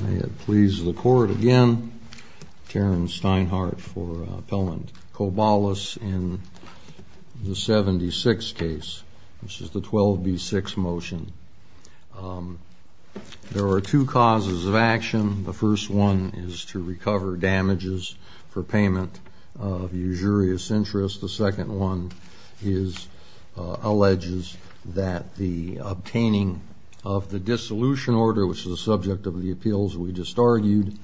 May it please the Court again, Terrence Steinhardt for Appellant Kobalis in the 76th case, which is the 12B6 motion. There are two causes of action. The first one is to recover damages for payment of usurious interest. The second one alleges that the obtaining of the dissolution order, which is the subject of the appeals we just argued,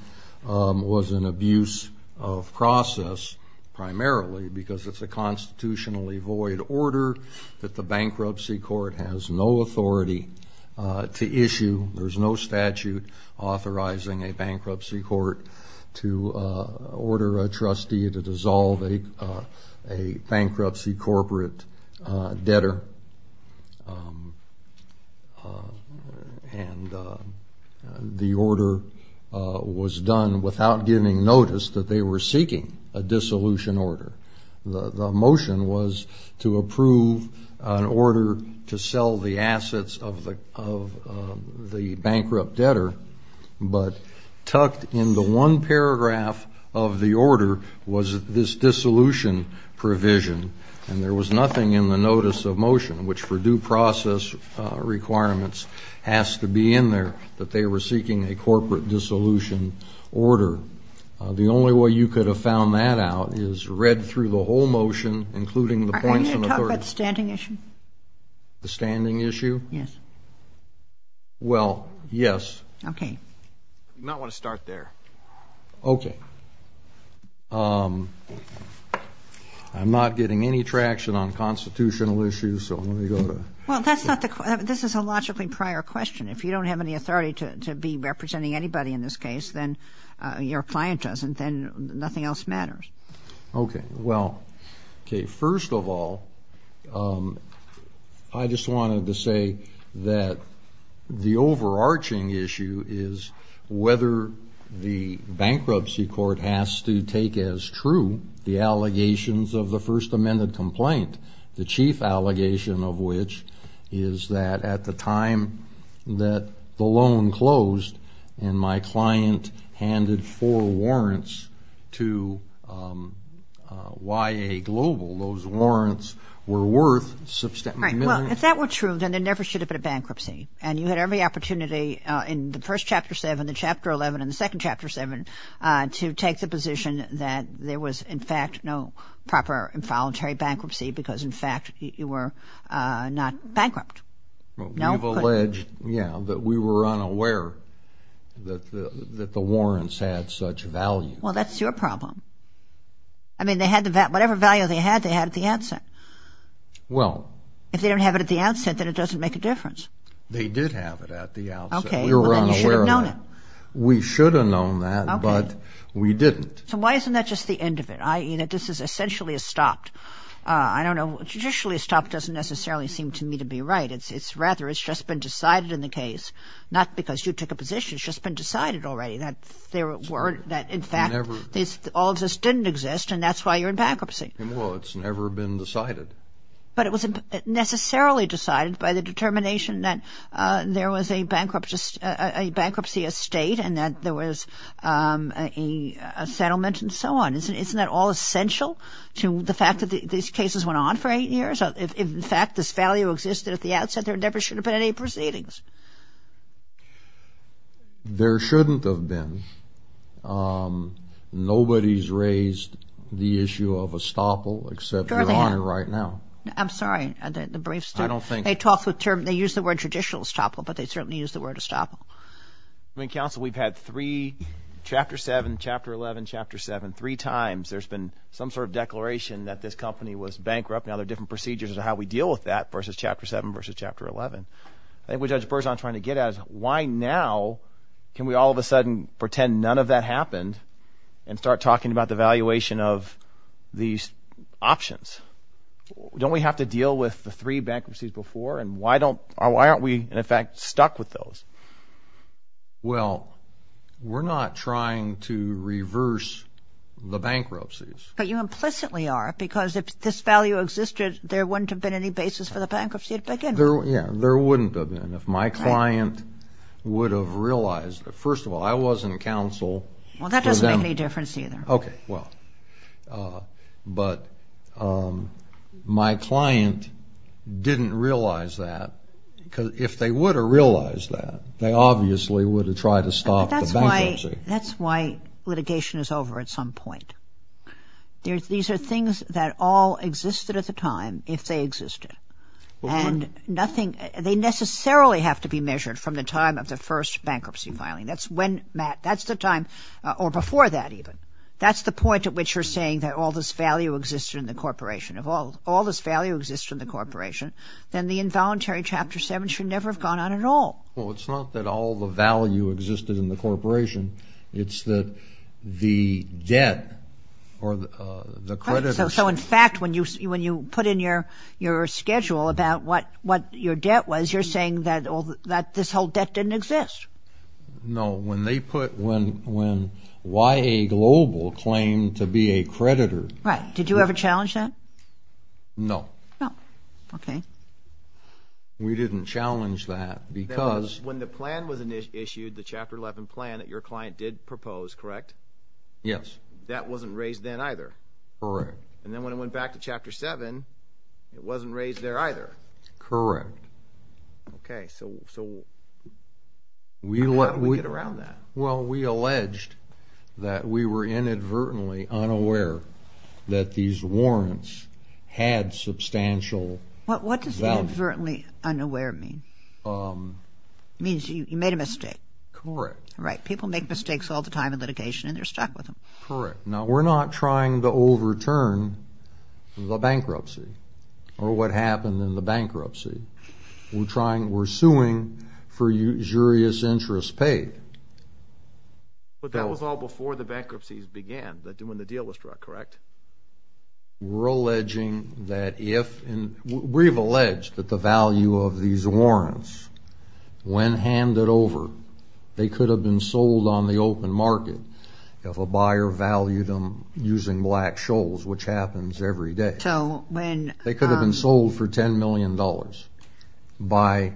was an abuse of process primarily because it's a constitutionally void order that the bankruptcy court has no authority to issue. There's no statute authorizing a bankruptcy court to order a trustee to dissolve a bankruptcy corporate debtor, and the order was done without giving notice that they were seeking a dissolution order. The motion was to approve an order to sell the assets of the bankrupt debtor, but tucked into one paragraph of the order was this dissolution provision, and there was nothing in the notice of motion, which for due process requirements has to be in there, that they were seeking a corporate dissolution order. The only way you could have found that out is read through the whole motion, including the points of authority. Are you going to talk about the standing issue? The standing issue? Yes. Well, yes. Okay. I do not want to start there. Okay. I'm not getting any traction on constitutional issues, so I'm going to go to... Well, that's not the... This is a logically prior question. If you don't have any authority to be representing anybody in this case, then your client doesn't, then nothing else matters. Okay. Well, okay. First of all, I just wanted to say that the overarching issue is whether the bankruptcy court has to take as true the allegations of the first amended complaint, the chief allegation of which is that at the time that the loan closed and my client handed four warrants to YA Global, those warrants were worth... Right. Well, if that were true, then there never should have been a bankruptcy, and you had every opportunity in the first Chapter 7, the bankruptcy because, in fact, you were not bankrupt. Well, we've alleged, yeah, that we were unaware that the warrants had such value. Well, that's your problem. I mean, they had the... Whatever value they had, they had at the outset. Well... If they don't have it at the outset, then it doesn't make a difference. They did have it at the outset. Okay. We were unaware of that. Well, then you should have known it. We should have known that, but we didn't. So why isn't that just the end of it, i.e., that this is essentially a stop? I don't know. Judicially, a stop doesn't necessarily seem to me to be right. It's rather, it's just been decided in the case, not because you took a position. It's just been decided already that there were, that, in fact, all this didn't exist, and that's why you're in bankruptcy. Well, it's never been decided. But it wasn't necessarily decided by the determination that there was a bankruptcy estate and that there was a settlement and so on. Isn't that all essential to the fact that these cases went on for eight years? If, in fact, this value existed at the outset, there never should have been any proceedings. There shouldn't have been. Nobody's raised the issue of a stopple except your Honor right now. I'm sorry. I don't think. They use the word traditional stopple, but they certainly use the word a stopple. I mean, Counsel, we've had three, Chapter 7, Chapter 11, Chapter 7, three times, there's been some sort of declaration that this company was bankrupt. Now there are different procedures as to how we deal with that versus Chapter 7 versus Chapter 11. I think what Judge Berzon is trying to get at is why now can we all of a sudden pretend none of that happened and start talking about the valuation of these options? Don't we have to deal with the three bankruptcies before, and why aren't we, in fact, stuck with those? Well, we're not trying to reverse the bankruptcies. But you implicitly are, because if this value existed, there wouldn't have been any basis for the bankruptcy to begin with. Yeah, there wouldn't have been if my client would have realized. First of all, I was in counsel. Well, that doesn't make any difference either. Okay, well, but my client didn't realize that, because if they would have realized that, they obviously would have tried to stop the bankruptcy. That's why litigation is over at some point. These are things that all existed at the time if they existed. And nothing, they necessarily have to be measured from the time of the first bankruptcy filing. That's when, Matt, that's the time, or before that even. That's the point at which you're saying that all this value existed in the corporation. If all this value existed in the corporation, then the involuntary Chapter 7 should never have gone on at all. Well, it's not that all the value existed in the corporation. It's that the debt or the creditors... Well, when they put a schedule about what your debt was, you're saying that this whole debt didn't exist. No, when they put why a global claim to be a creditor... Right, did you ever challenge that? No. No, okay. We didn't challenge that, because... When the plan was issued, the Chapter 11 plan that your client did propose, correct? Yes. That wasn't raised then either. Correct. And then when it went back to Chapter 7, it wasn't raised there either. Correct. Okay, so how did we get around that? Well, we alleged that we were inadvertently unaware that these warrants had substantial value. What does inadvertently unaware mean? It means you made a mistake. Correct. Right, people make mistakes all the time in litigation, and they're stuck with them. Correct. Now, we're not trying to overturn the bankruptcy or what happened in the bankruptcy. We're suing for usurious interest paid. But that was all before the bankruptcies began, when the deal was struck, correct? We're alleging that if... We've alleged that the value of these warrants, when handed over, they could have been sold on the open market if a buyer valued them using black shoals, which happens every day. So when... They could have been sold for $10 million by...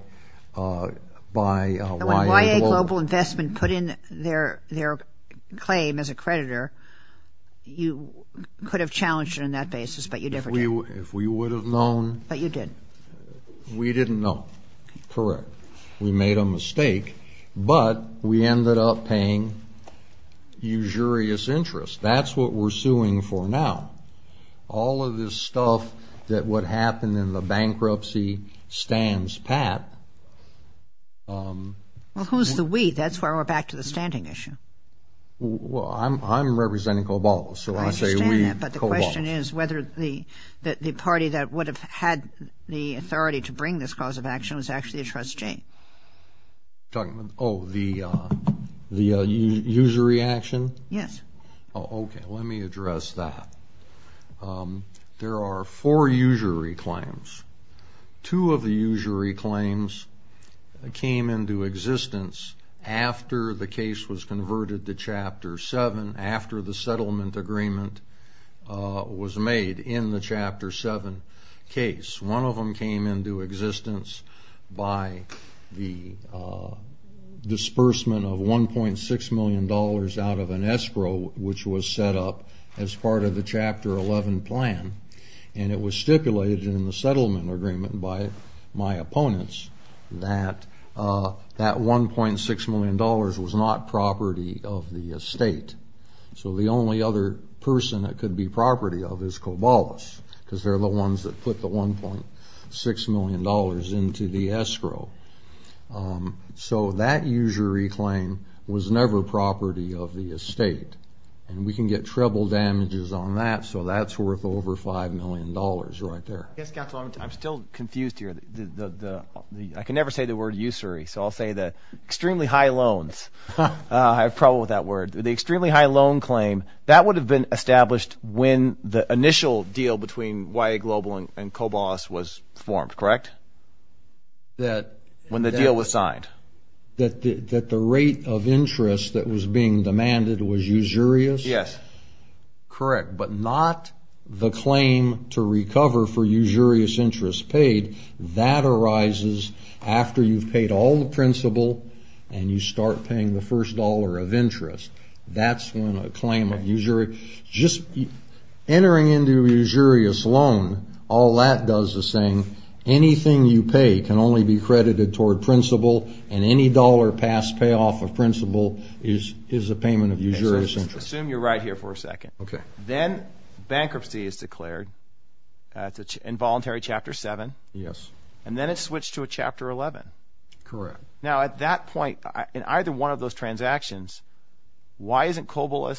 When YA Global Investment put in their claim as a creditor, you could have challenged it on that basis, but you never did. If we would have known... But you didn't. We didn't know. Correct. We made a mistake, but we ended up paying usurious interest. That's what we're suing for now. All of this stuff that would happen in the bankruptcy stands pat. Well, who's the we? That's where we're back to the standing issue. Well, I'm representing COBOL, so I say we, COBOL. I understand that, but the question is whether the party that would have had the authority to bring this cause of action was actually a trustee. Oh, the usury action? Yes. Okay, let me address that. There are four usury claims. Two of the usury claims came into existence after the case was converted to Chapter 7, after the settlement agreement was made in the Chapter 7 case. One of them came into existence by the disbursement of $1.6 million out of an escrow, which was set up as part of the Chapter 11 plan, and it was stipulated in the settlement agreement by my opponents that that $1.6 million was not property of the estate. So the only other person it could be property of is COBOL, because they're the ones that put the $1.6 million into the escrow. So that usury claim was never property of the estate, and we can get treble damages on that, so that's worth over $5 million right there. Yes, Counselor, I'm still confused here. I can never say the word usury, so I'll say the extremely high loans. I have trouble with that word. The extremely high loan claim, that would have been established when the initial deal between YA Global and COBOL was formed, correct? When the deal was signed. That the rate of interest that was being demanded was usurious? Yes. Correct, but not the claim to recover for usurious interest paid. That arises after you've paid all the principal, and you start paying the first dollar of interest. That's when a claim of usury... Just entering into a usurious loan, all that does is saying anything you pay can only be credited toward principal, and any dollar past payoff of principal is a payment of usurious interest. Assume you're right here for a second. Okay. Then bankruptcy is declared, involuntary Chapter 7. Yes. And then it's switched to a Chapter 11. Correct. Now at that point, in either one of those transactions, why isn't COBOL,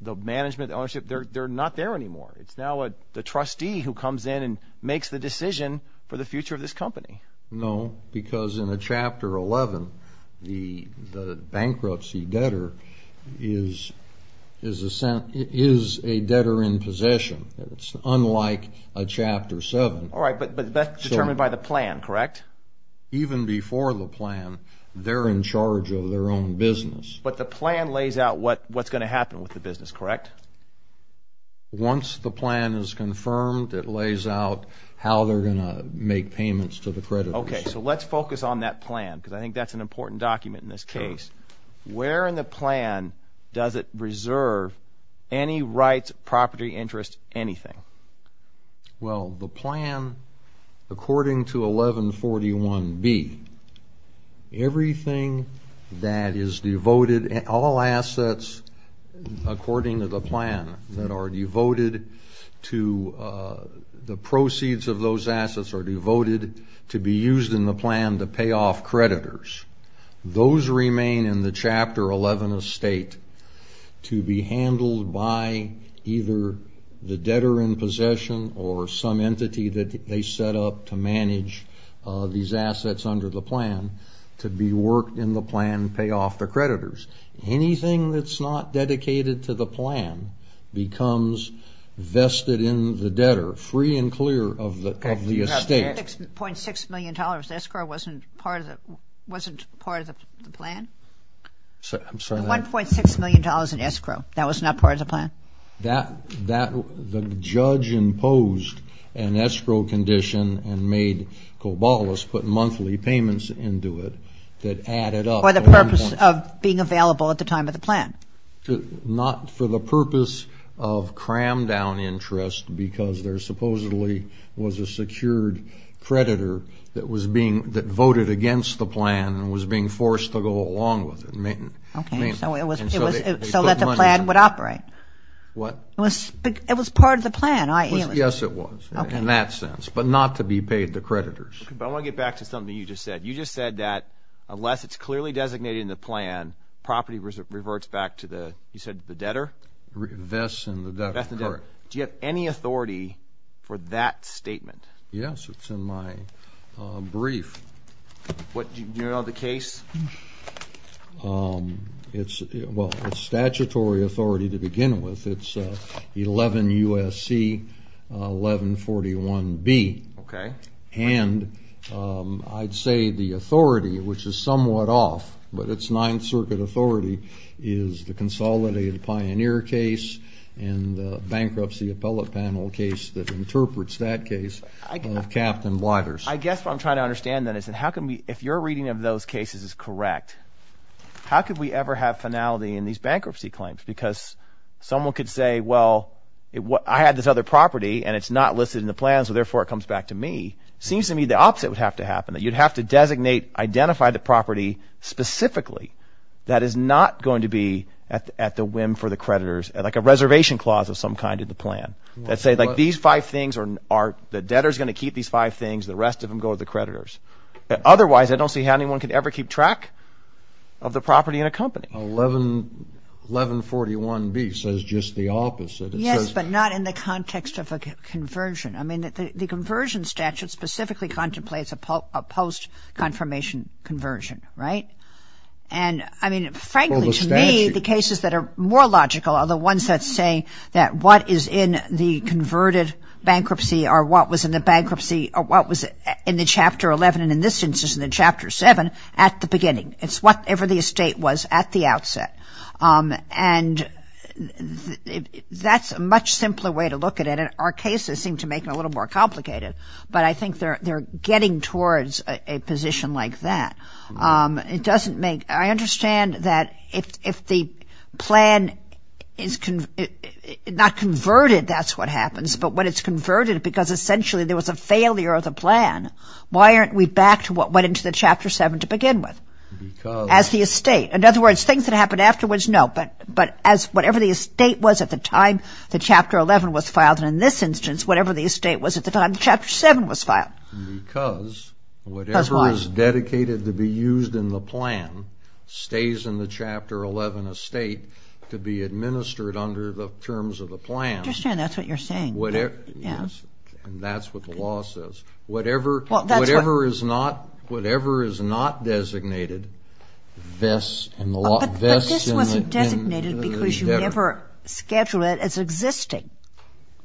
the management, the ownership, they're not there anymore? It's now the trustee who comes in and makes the decision for the future of this company. No, because in a Chapter 11, the bankruptcy debtor is a debtor in possession. It's unlike a Chapter 7. All right, but that's determined by the plan, correct? Even before the plan, they're in charge of their own business. But the plan lays out what's going to happen with the business, correct? Once the plan is confirmed, it lays out how they're going to make payments to the creditors. Okay, so let's focus on that plan, because I think that's an important document in this case. Where in the plan does it reserve any rights, property, interest, anything? Well, the plan, according to 1141B, everything that is devoted, all assets according to the plan that are devoted to the proceeds of those assets are devoted to be used in the plan to pay off creditors. Those remain in the Chapter 11 estate to be handled by either the debtor in possession or some entity that they set up to manage these assets under the plan to be worked in the plan to pay off the creditors. Anything that's not dedicated to the plan becomes vested in the debtor, free and clear of the estate. The $1.6 million escrow wasn't part of the plan? I'm sorry? The $1.6 million in escrow, that was not part of the plan? The judge imposed an escrow condition and made cobolas, put monthly payments into it that added up. For the purpose of being available at the time of the plan? Not for the purpose of cram down interest because there supposedly was a secured creditor that voted against the plan and was being forced to go along with it. Okay, so it was so that the plan would operate? What? It was part of the plan? Yes, it was in that sense, but not to be paid to creditors. I want to get back to something you just said. You just said that unless it's clearly designated in the plan, property reverts back to the debtor? Vests in the debtor, correct. Do you have any authority for that statement? Yes, it's in my brief. Do you know the case? It's statutory authority to begin with. It's 11 U.S.C. 1141B. Okay. And I'd say the authority, which is somewhat off, but it's Ninth Circuit authority, is the consolidated pioneer case and the bankruptcy appellate panel case that interprets that case of Captain Blighter's. I guess what I'm trying to understand then is how can we, if your reading of those cases is correct, how could we ever have finality in these bankruptcy claims? Because someone could say, well, I had this other property and it's not listed in the plan so therefore it comes back to me. It seems to me the opposite would have to happen, that you'd have to designate, identify the property specifically that is not going to be at the whim for the creditors, like a reservation clause of some kind in the plan. Let's say these five things, the debtor's going to keep these five things, the rest of them go to the creditors. Otherwise, I don't see how anyone could ever keep track of the property in a company. 1141B says just the opposite. Yes, but not in the context of a conversion. I mean, the conversion statute specifically contemplates a post-confirmation conversion, right? And, I mean, frankly to me, the cases that are more logical are the ones that say that what is in the converted bankruptcy or what was in the bankruptcy or what was in the Chapter 11 and in this instance in the Chapter 7 at the beginning. It's whatever the estate was at the outset. And that's a much simpler way to look at it. Our cases seem to make it a little more complicated. But I think they're getting towards a position like that. It doesn't make – I understand that if the plan is – not converted, that's what happens, but when it's converted because essentially there was a failure of the plan, why aren't we back to what went into the Chapter 7 to begin with? Because – As the estate. In other words, things that happened afterwards, no. But as whatever the estate was at the time the Chapter 11 was filed and in this instance whatever the estate was at the time the Chapter 7 was filed. Because whatever is dedicated to be used in the plan stays in the Chapter 11 estate to be administered under the terms of the plan. I understand that's what you're saying. Yes, and that's what the law says. Whatever is not designated vests in the endeavor. But this wasn't designated because you never scheduled it as existing,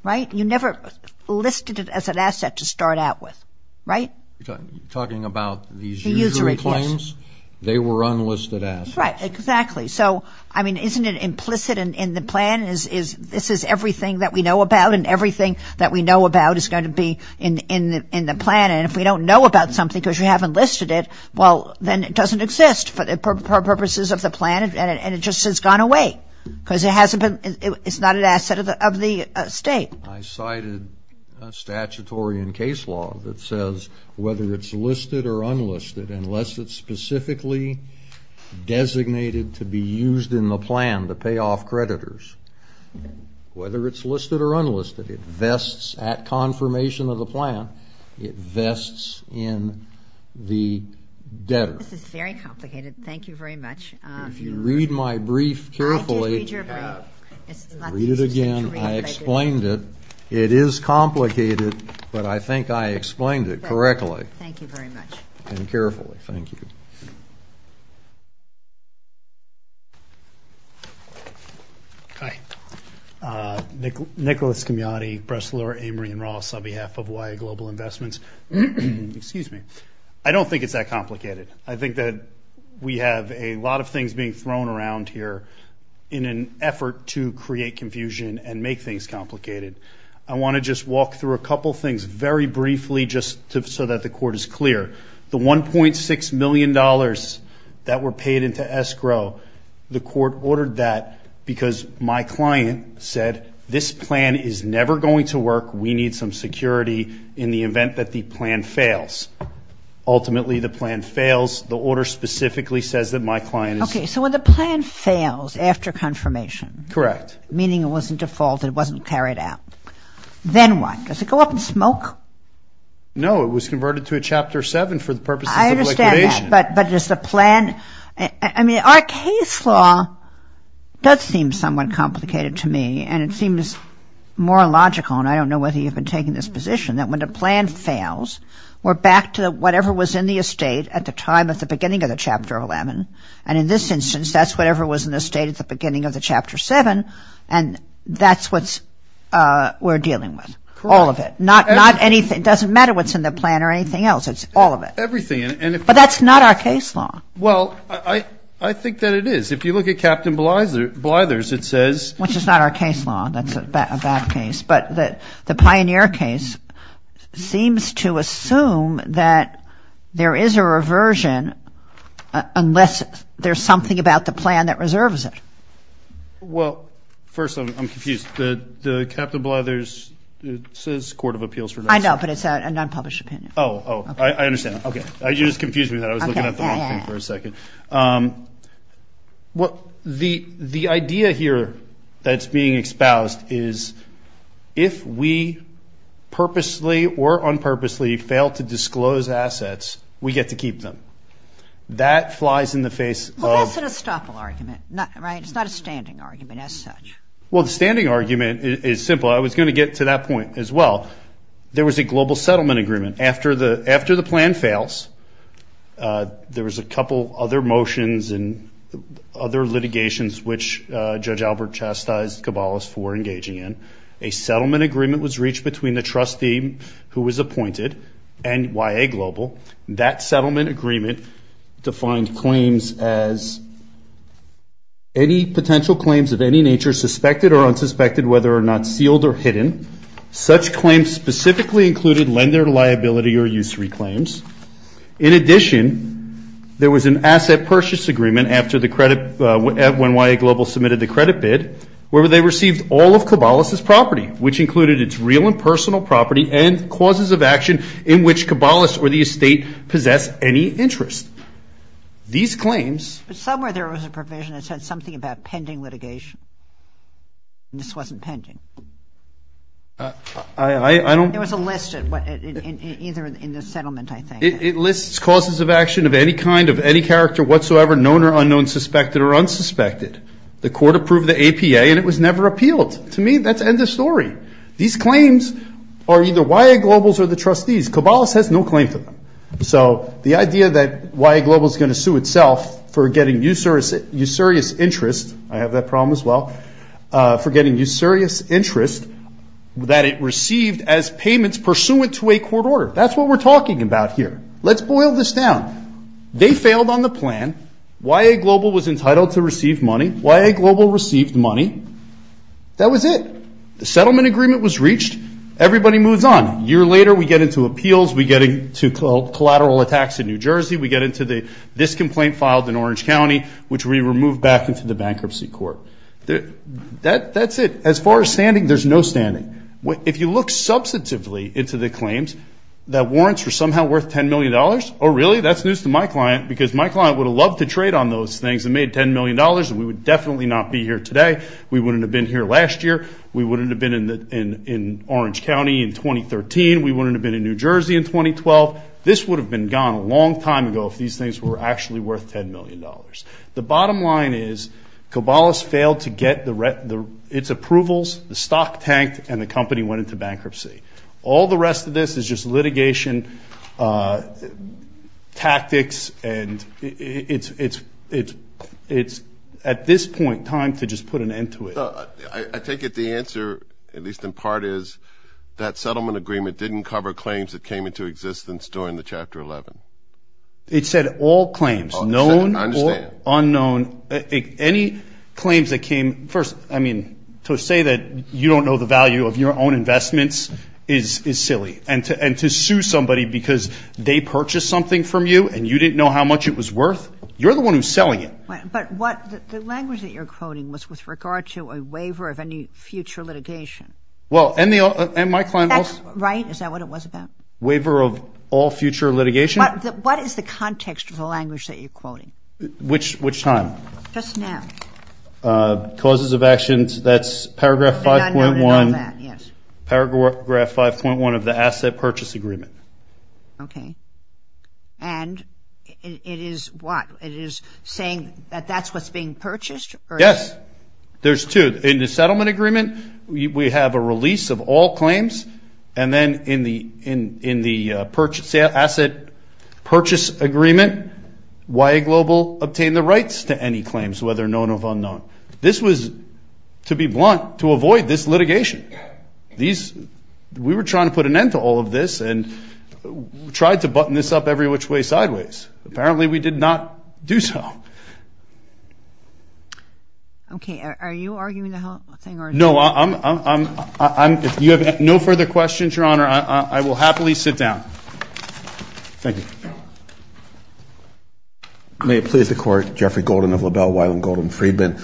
right? You never listed it as an asset to start out with, right? You're talking about these usual claims? The usual claims. They were unlisted assets. Right, exactly. So, I mean, isn't it implicit in the plan? This is everything that we know about and everything that we know about is going to be in the plan. And if we don't know about something because we haven't listed it, well, then it doesn't exist for purposes of the plan and it just has gone away. Because it hasn't been – it's not an asset of the estate. I cited a statutory and case law that says whether it's listed or unlisted unless it's specifically designated to be used in the plan to pay off creditors. Whether it's listed or unlisted, it vests at confirmation of the plan. It vests in the debtor. This is very complicated. Thank you very much. If you read my brief carefully – I did read your brief. Read it again. I explained it. It is complicated, but I think I explained it correctly. Thank you very much. And carefully. Thank you. Hi. Nicholas Camiotti, Bressler, Amory & Ross on behalf of YA Global Investments. Excuse me. I don't think it's that complicated. I think that we have a lot of things being thrown around here in an effort to create confusion and make things complicated. I want to just walk through a couple things very briefly just so that the Court is clear. The $1.6 million that were paid into escrow, the Court ordered that because my client said, this plan is never going to work. We need some security in the event that the plan fails. Ultimately, the plan fails. The order specifically says that my client is – Okay. So when the plan fails after confirmation – Correct. Meaning it wasn't defaulted, it wasn't carried out. Then what? Does it go up in smoke? No. It was converted to a Chapter 7 for the purposes of evacuation. I understand that. But does the plan – I mean, our case law does seem somewhat complicated to me. And it seems more logical, and I don't know whether you've been taking this position, that when the plan fails, we're back to whatever was in the estate at the time, at the beginning of the Chapter 11. And in this instance, that's whatever was in the estate at the beginning of the Chapter 7. And that's what we're dealing with. Correct. It's all of it. It doesn't matter what's in the plan or anything else. It's all of it. Everything. But that's not our case law. Well, I think that it is. If you look at Captain Blyther's, it says – Which is not our case law. That's a bad case. But the Pioneer case seems to assume that there is a reversion unless there's something about the plan that reserves it. Well, first, I'm confused. The Captain Blyther's, it says Court of Appeals for – I know, but it's an unpublished opinion. Oh, oh. I understand. Okay. You just confused me. I was looking at the wrong thing for a second. The idea here that's being espoused is if we purposely or unpurposely fail to disclose assets, we get to keep them. That flies in the face of – Well, that's an estoppel argument, right? It's not a standing argument as such. Well, the standing argument is simple. I was going to get to that point as well. There was a global settlement agreement. After the plan fails, there was a couple other motions and other litigations which Judge Albert chastised Kabbalah's for engaging in. A settlement agreement was reached between the trustee who was appointed and YA Global. That settlement agreement defined claims as any potential claims of any nature, suspected or unsuspected, whether or not sealed or hidden. Such claims specifically included lender liability or usury claims. In addition, there was an asset purchase agreement after when YA Global submitted the credit bid where they received all of Kabbalah's property, which included its real and personal property and causes of action in which Kabbalah's or the estate possess any interest. These claims – But somewhere there was a provision that said something about pending litigation. This wasn't pending. I don't – There was a list either in the settlement, I think. It lists causes of action of any kind, of any character whatsoever, known or unknown, suspected or unsuspected. The court approved the APA and it was never appealed. To me, that's end of story. These claims are either YA Global's or the trustee's. Kabbalah's has no claim to them. So the idea that YA Global is going to sue itself for getting usurious interest – I have that problem as well – for getting usurious interest that it received as payments pursuant to a court order. That's what we're talking about here. Let's boil this down. They failed on the plan. YA Global was entitled to receive money. YA Global received money. That was it. The settlement agreement was reached. Everybody moves on. A year later, we get into appeals. We get into collateral attacks in New Jersey. We get into this complaint filed in Orange County which we removed back into the bankruptcy court. That's it. As far as standing, there's no standing. If you look substantively into the claims that warrants were somehow worth $10 million – Oh, really? That's news to my client because my client would have loved to trade on those things and made $10 million and we would definitely not be here today. We wouldn't have been here last year. We wouldn't have been in Orange County in 2013. We wouldn't have been in New Jersey in 2012. This would have been gone a long time ago if these things were actually worth $10 million. The bottom line is, Kobalas failed to get its approvals, the stock tanked, and the company went into bankruptcy. All the rest of this is just litigation tactics and it's at this point time to just put an end to it. I take it the answer, at least in part, is that settlement agreement didn't cover claims that came into existence during the Chapter 11? It said all claims, known or unknown. I understand. Any claims that came – first, I mean, to say that you don't know the value of your own investments is silly. And to sue somebody because they purchased something from you and you didn't know how much it was worth? You're the one who's selling it. But what – the language that you're quoting was with regard to a waiver of any future litigation. Well, and my client also – Is that right? Is that what it was about? Waiver of all future litigation? What is the context of the language that you're quoting? Which time? Just now. Causes of actions, that's paragraph 5.1 of the asset purchase agreement. Okay. And it is what? It is saying that that's what's being purchased? Yes. There's two. In the settlement agreement, we have a release of all claims. And then in the purchase – asset purchase agreement, YA Global obtained the rights to any claims, whether known or unknown. This was, to be blunt, to avoid this litigation. These – we were trying to put an end to all of this and tried to button this up every which way sideways. Apparently, we did not do so. Okay. Are you arguing the whole thing? No. I'm – if you have no further questions, Your Honor, I will happily sit down. Thank you. May it please the Court, Jeffrey Golden of LaBelle, Wyland-Golden-Freedman.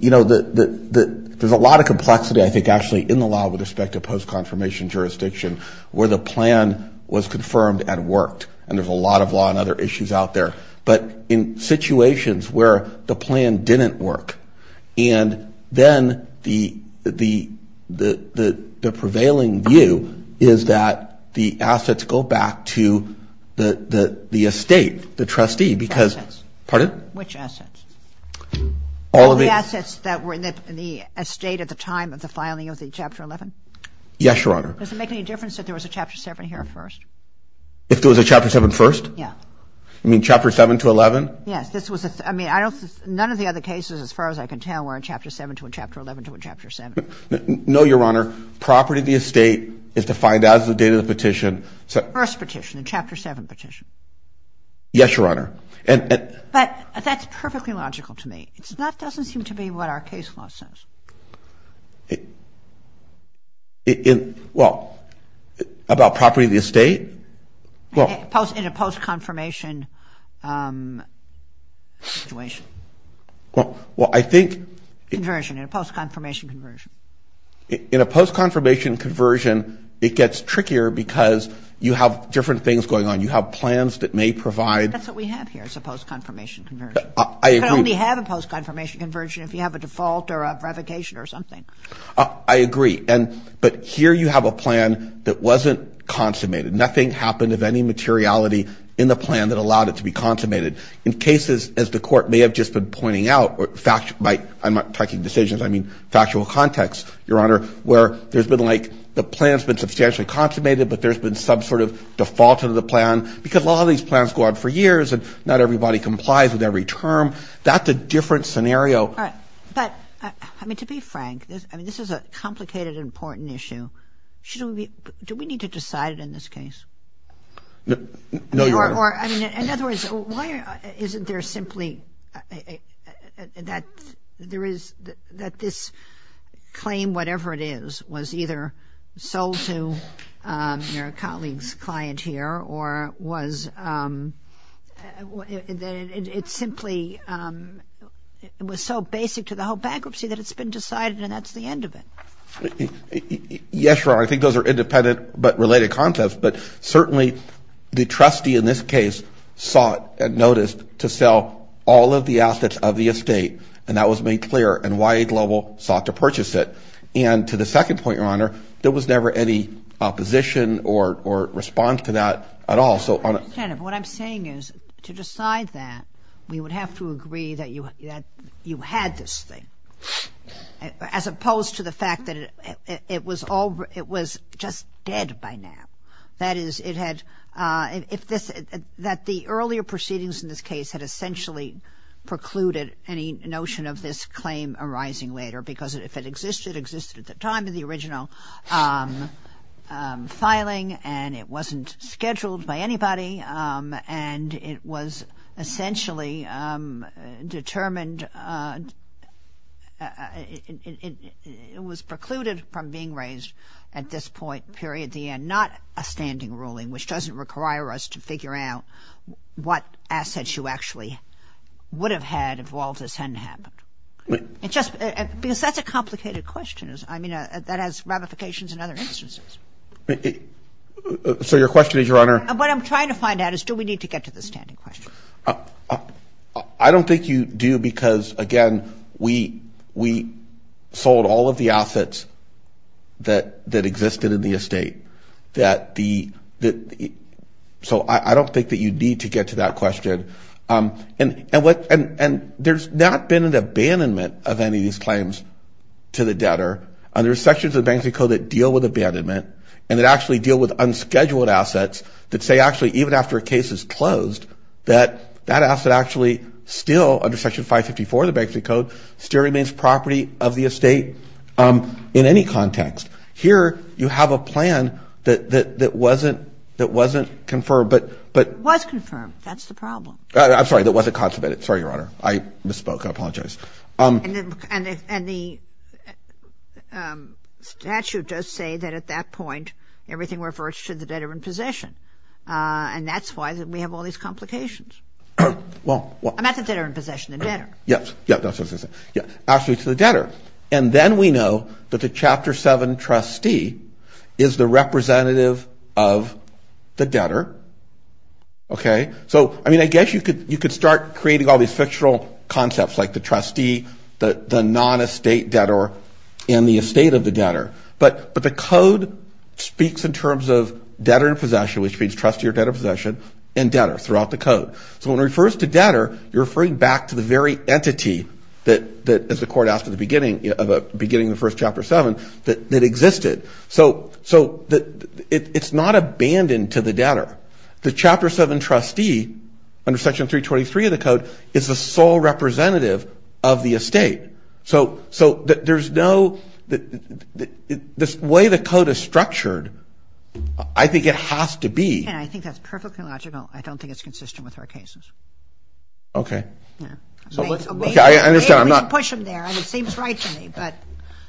You know, there's a lot of complexity, I think, actually, in the law with respect to post-confirmation jurisdiction where the plan was confirmed and worked. And there's a lot of law and other issues out there. But in situations where the plan didn't work and then the prevailing view is that the assets go back to the estate, the trustee because – Assets. Pardon? Which assets? All of the – All the assets that were in the estate at the time of the filing of the Chapter 11? Yes, Your Honor. Does it make any difference that there was a Chapter 7 here first? If there was a Chapter 7 first? Yeah. You mean Chapter 7 to 11? Yes. This was – I mean, I don't – As far as I can tell, we're in Chapter 7 to a Chapter 11 to a Chapter 7. No, Your Honor. Property of the estate is defined as the date of the petition. So – First petition, the Chapter 7 petition. Yes, Your Honor. And – But that's perfectly logical to me. It's not – doesn't seem to be what our case law says. It – Well, about property of the estate? Well – In a post-confirmation situation. Well, I think – Conversion. In a post-confirmation conversion. In a post-confirmation conversion, it gets trickier because you have different things going on. You have plans that may provide – That's what we have here is a post-confirmation conversion. I agree. You can only have a post-confirmation conversion if you have a default or a revocation or something. I agree. And – But here you have a plan that wasn't consummated. Nothing happened of any materiality in the plan that allowed it to be consummated. In cases, as the Court may have just been pointing out, by – I'm not talking decisions. I mean factual context, Your Honor, where there's been like – the plan's been substantially consummated, but there's been some sort of default of the plan because a lot of these plans go on for years and not everybody complies with every term. That's a different scenario. All right. But – I mean, to be frank, I mean, this is a complicated, important issue. Should we be – Do we need to decide it in this case? No, Your Honor. Or – In other words, why isn't there simply – that there is – that this claim, whatever it is, was either sold to your colleague's client here or was – it simply – it was so basic to the whole bankruptcy that it's been decided and that's the end of it. Yes, Your Honor. I think those are independent but related concepts. But certainly, the trustee in this case sought and noticed to sell all of the assets of the estate and that was made clear and YA Global sought to purchase it. And to the second point, Your Honor, there was never any opposition or response to that at all. So on – Senator, what I'm saying is to decide that, we would have to agree that you had this thing as opposed to the fact that it was all – it was just dead by now. That is, it had – if this – that the earlier proceedings in this case had essentially precluded any notion of this claim arising later because if it existed, it existed at the time of the original filing and it wasn't scheduled by anybody and it was essentially determined – it was precluded from being raised at this point, period, the end. It's not a standing ruling which doesn't require us to figure out what assets you actually would have had if all this hadn't happened. It just – because that's a complicated question. I mean, that has ramifications in other instances. So your question is, Your Honor – What I'm trying to find out is do we need to get to the standing question? I don't think you do because, again, we sold all of the assets that existed in the estate that the – so I don't think that you need to get to that question. And what – and there's not been an abandonment of any of these claims to the debtor. There are sections of the Banksy Code that deal with abandonment and that actually deal with unscheduled assets that say actually even after a case is closed that that asset actually still, under Section 554 of the Banksy Code, still remains property of the estate in any context. Here you have a plan that wasn't – that wasn't confirmed, but – It was confirmed. That's the problem. I'm sorry. That wasn't constipated. Sorry, Your Honor. I misspoke. I apologize. And the statute does say that at that point everything refers to the debtor in possession. And that's why we have all these complications. Well – I meant the debtor in possession, the debtor. Yes. That's what I was going to say. Actually, it's the debtor. And then we know that the Chapter 7 trustee is the representative of the debtor. Okay? So, I mean, I guess you could – you could start creating all these fictional concepts like the trustee, the non-estate debtor, and the estate of the debtor. But – but the Code speaks in terms of debtor in possession, which means trustee or debtor in possession, and debtor throughout the Code. So when it refers to debtor, you're referring back to the very entity that, as the Court asked at the beginning, beginning of the first Chapter 7, that existed. So – so it's not abandoned to the debtor. The Chapter 7 trustee, under Section 323 of the Code, is the sole representative of the estate. So – so there's no – the way the Code is structured, I think it has to be – Yeah, I think that's perfectly logical. I don't think it's consistent with our cases. Okay. Yeah. Okay, I understand. I'm not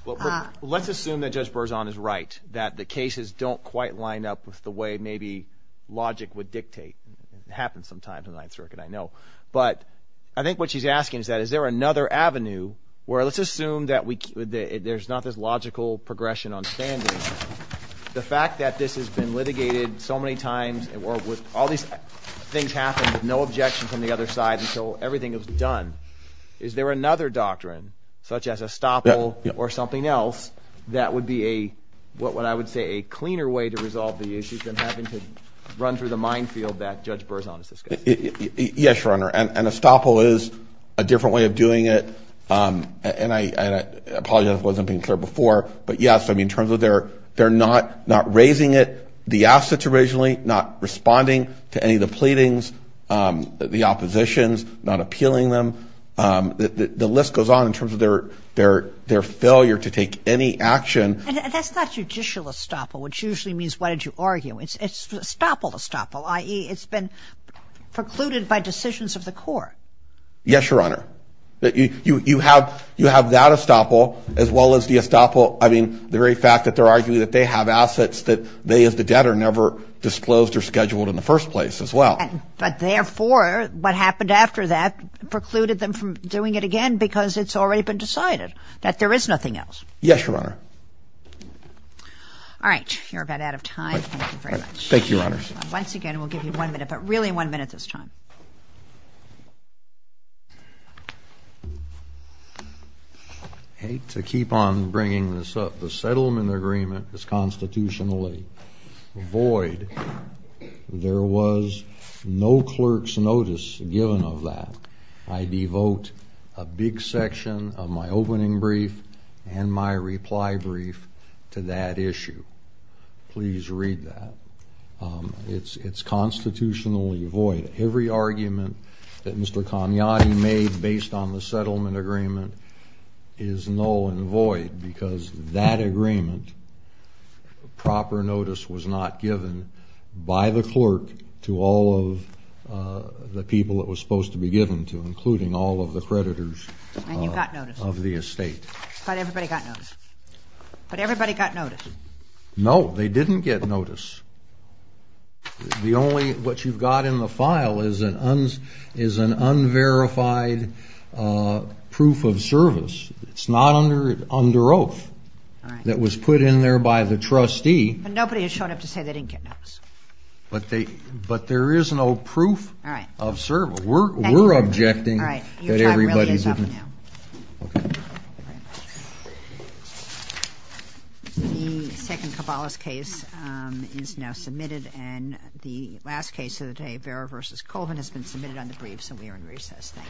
– Well, let's assume that Judge Berzon is right, that the cases don't quite line up with the way maybe logic would dictate. It happens sometimes in the Ninth Circuit, I know. But I think what she's asking is that is there another avenue where – let's assume that we – there's not this logical progression on standing. The fact that this has been litigated so many times, or with all these things happening, with no objection from the other side, until everything is done, is there another doctrine, such as estoppel or something else, that would be a – what I would say a cleaner way to resolve the issues than having to run through the minefield that Judge Berzon is discussing? Yes, Your Honor. An estoppel is a different way of doing it. And I apologize if it wasn't being clear before, but yes, I mean, in terms of they're not raising it, the assets originally, not responding to any of the pleadings, the oppositions, not appealing them. The list goes on in terms of their failure to take any action. And that's not judicial estoppel, which usually means, why did you argue? It's estoppel-estoppel, i.e. it's been precluded by decisions of the court. Yes, Your Honor. You have that estoppel, as well as the estoppel – I mean, the very fact that they're arguing that they have assets that they as the debtor never disclosed or scheduled in the first place as well. But therefore, what happened after that precluded them from doing it again because it's already been decided that there is nothing else. Yes, Your Honor. All right. You're about out of time. Thank you very much. Thank you, Your Honor. Once again, we'll give you one minute, but really one minute this time. I hate to keep on bringing this up. The settlement agreement is constitutionally void. There was no clerk's notice given of that. I devote a big section of my opening brief and my reply brief to that issue. Please read that. It's constitutionally void. Every argument that Mr. Cagnotti made based on the settlement agreement is null and void because that agreement, proper notice was not given by the clerk to all of the people it was supposed to be given to, including all of the creditors of the estate. And you got notice. But everybody got notice. But everybody got notice. No, they didn't get notice. The only... What you've got in the file is an unverified proof of service. It's not under oath that was put in there by the trustee. But nobody has shown up to say they didn't get notice. But there is no proof of service. We're objecting that everybody's... Your time really is up now. The second Cabalas case is now submitted. And the last case of the day, Vera v. Colvin, has been submitted on the brief, so we are in recess. Thank you.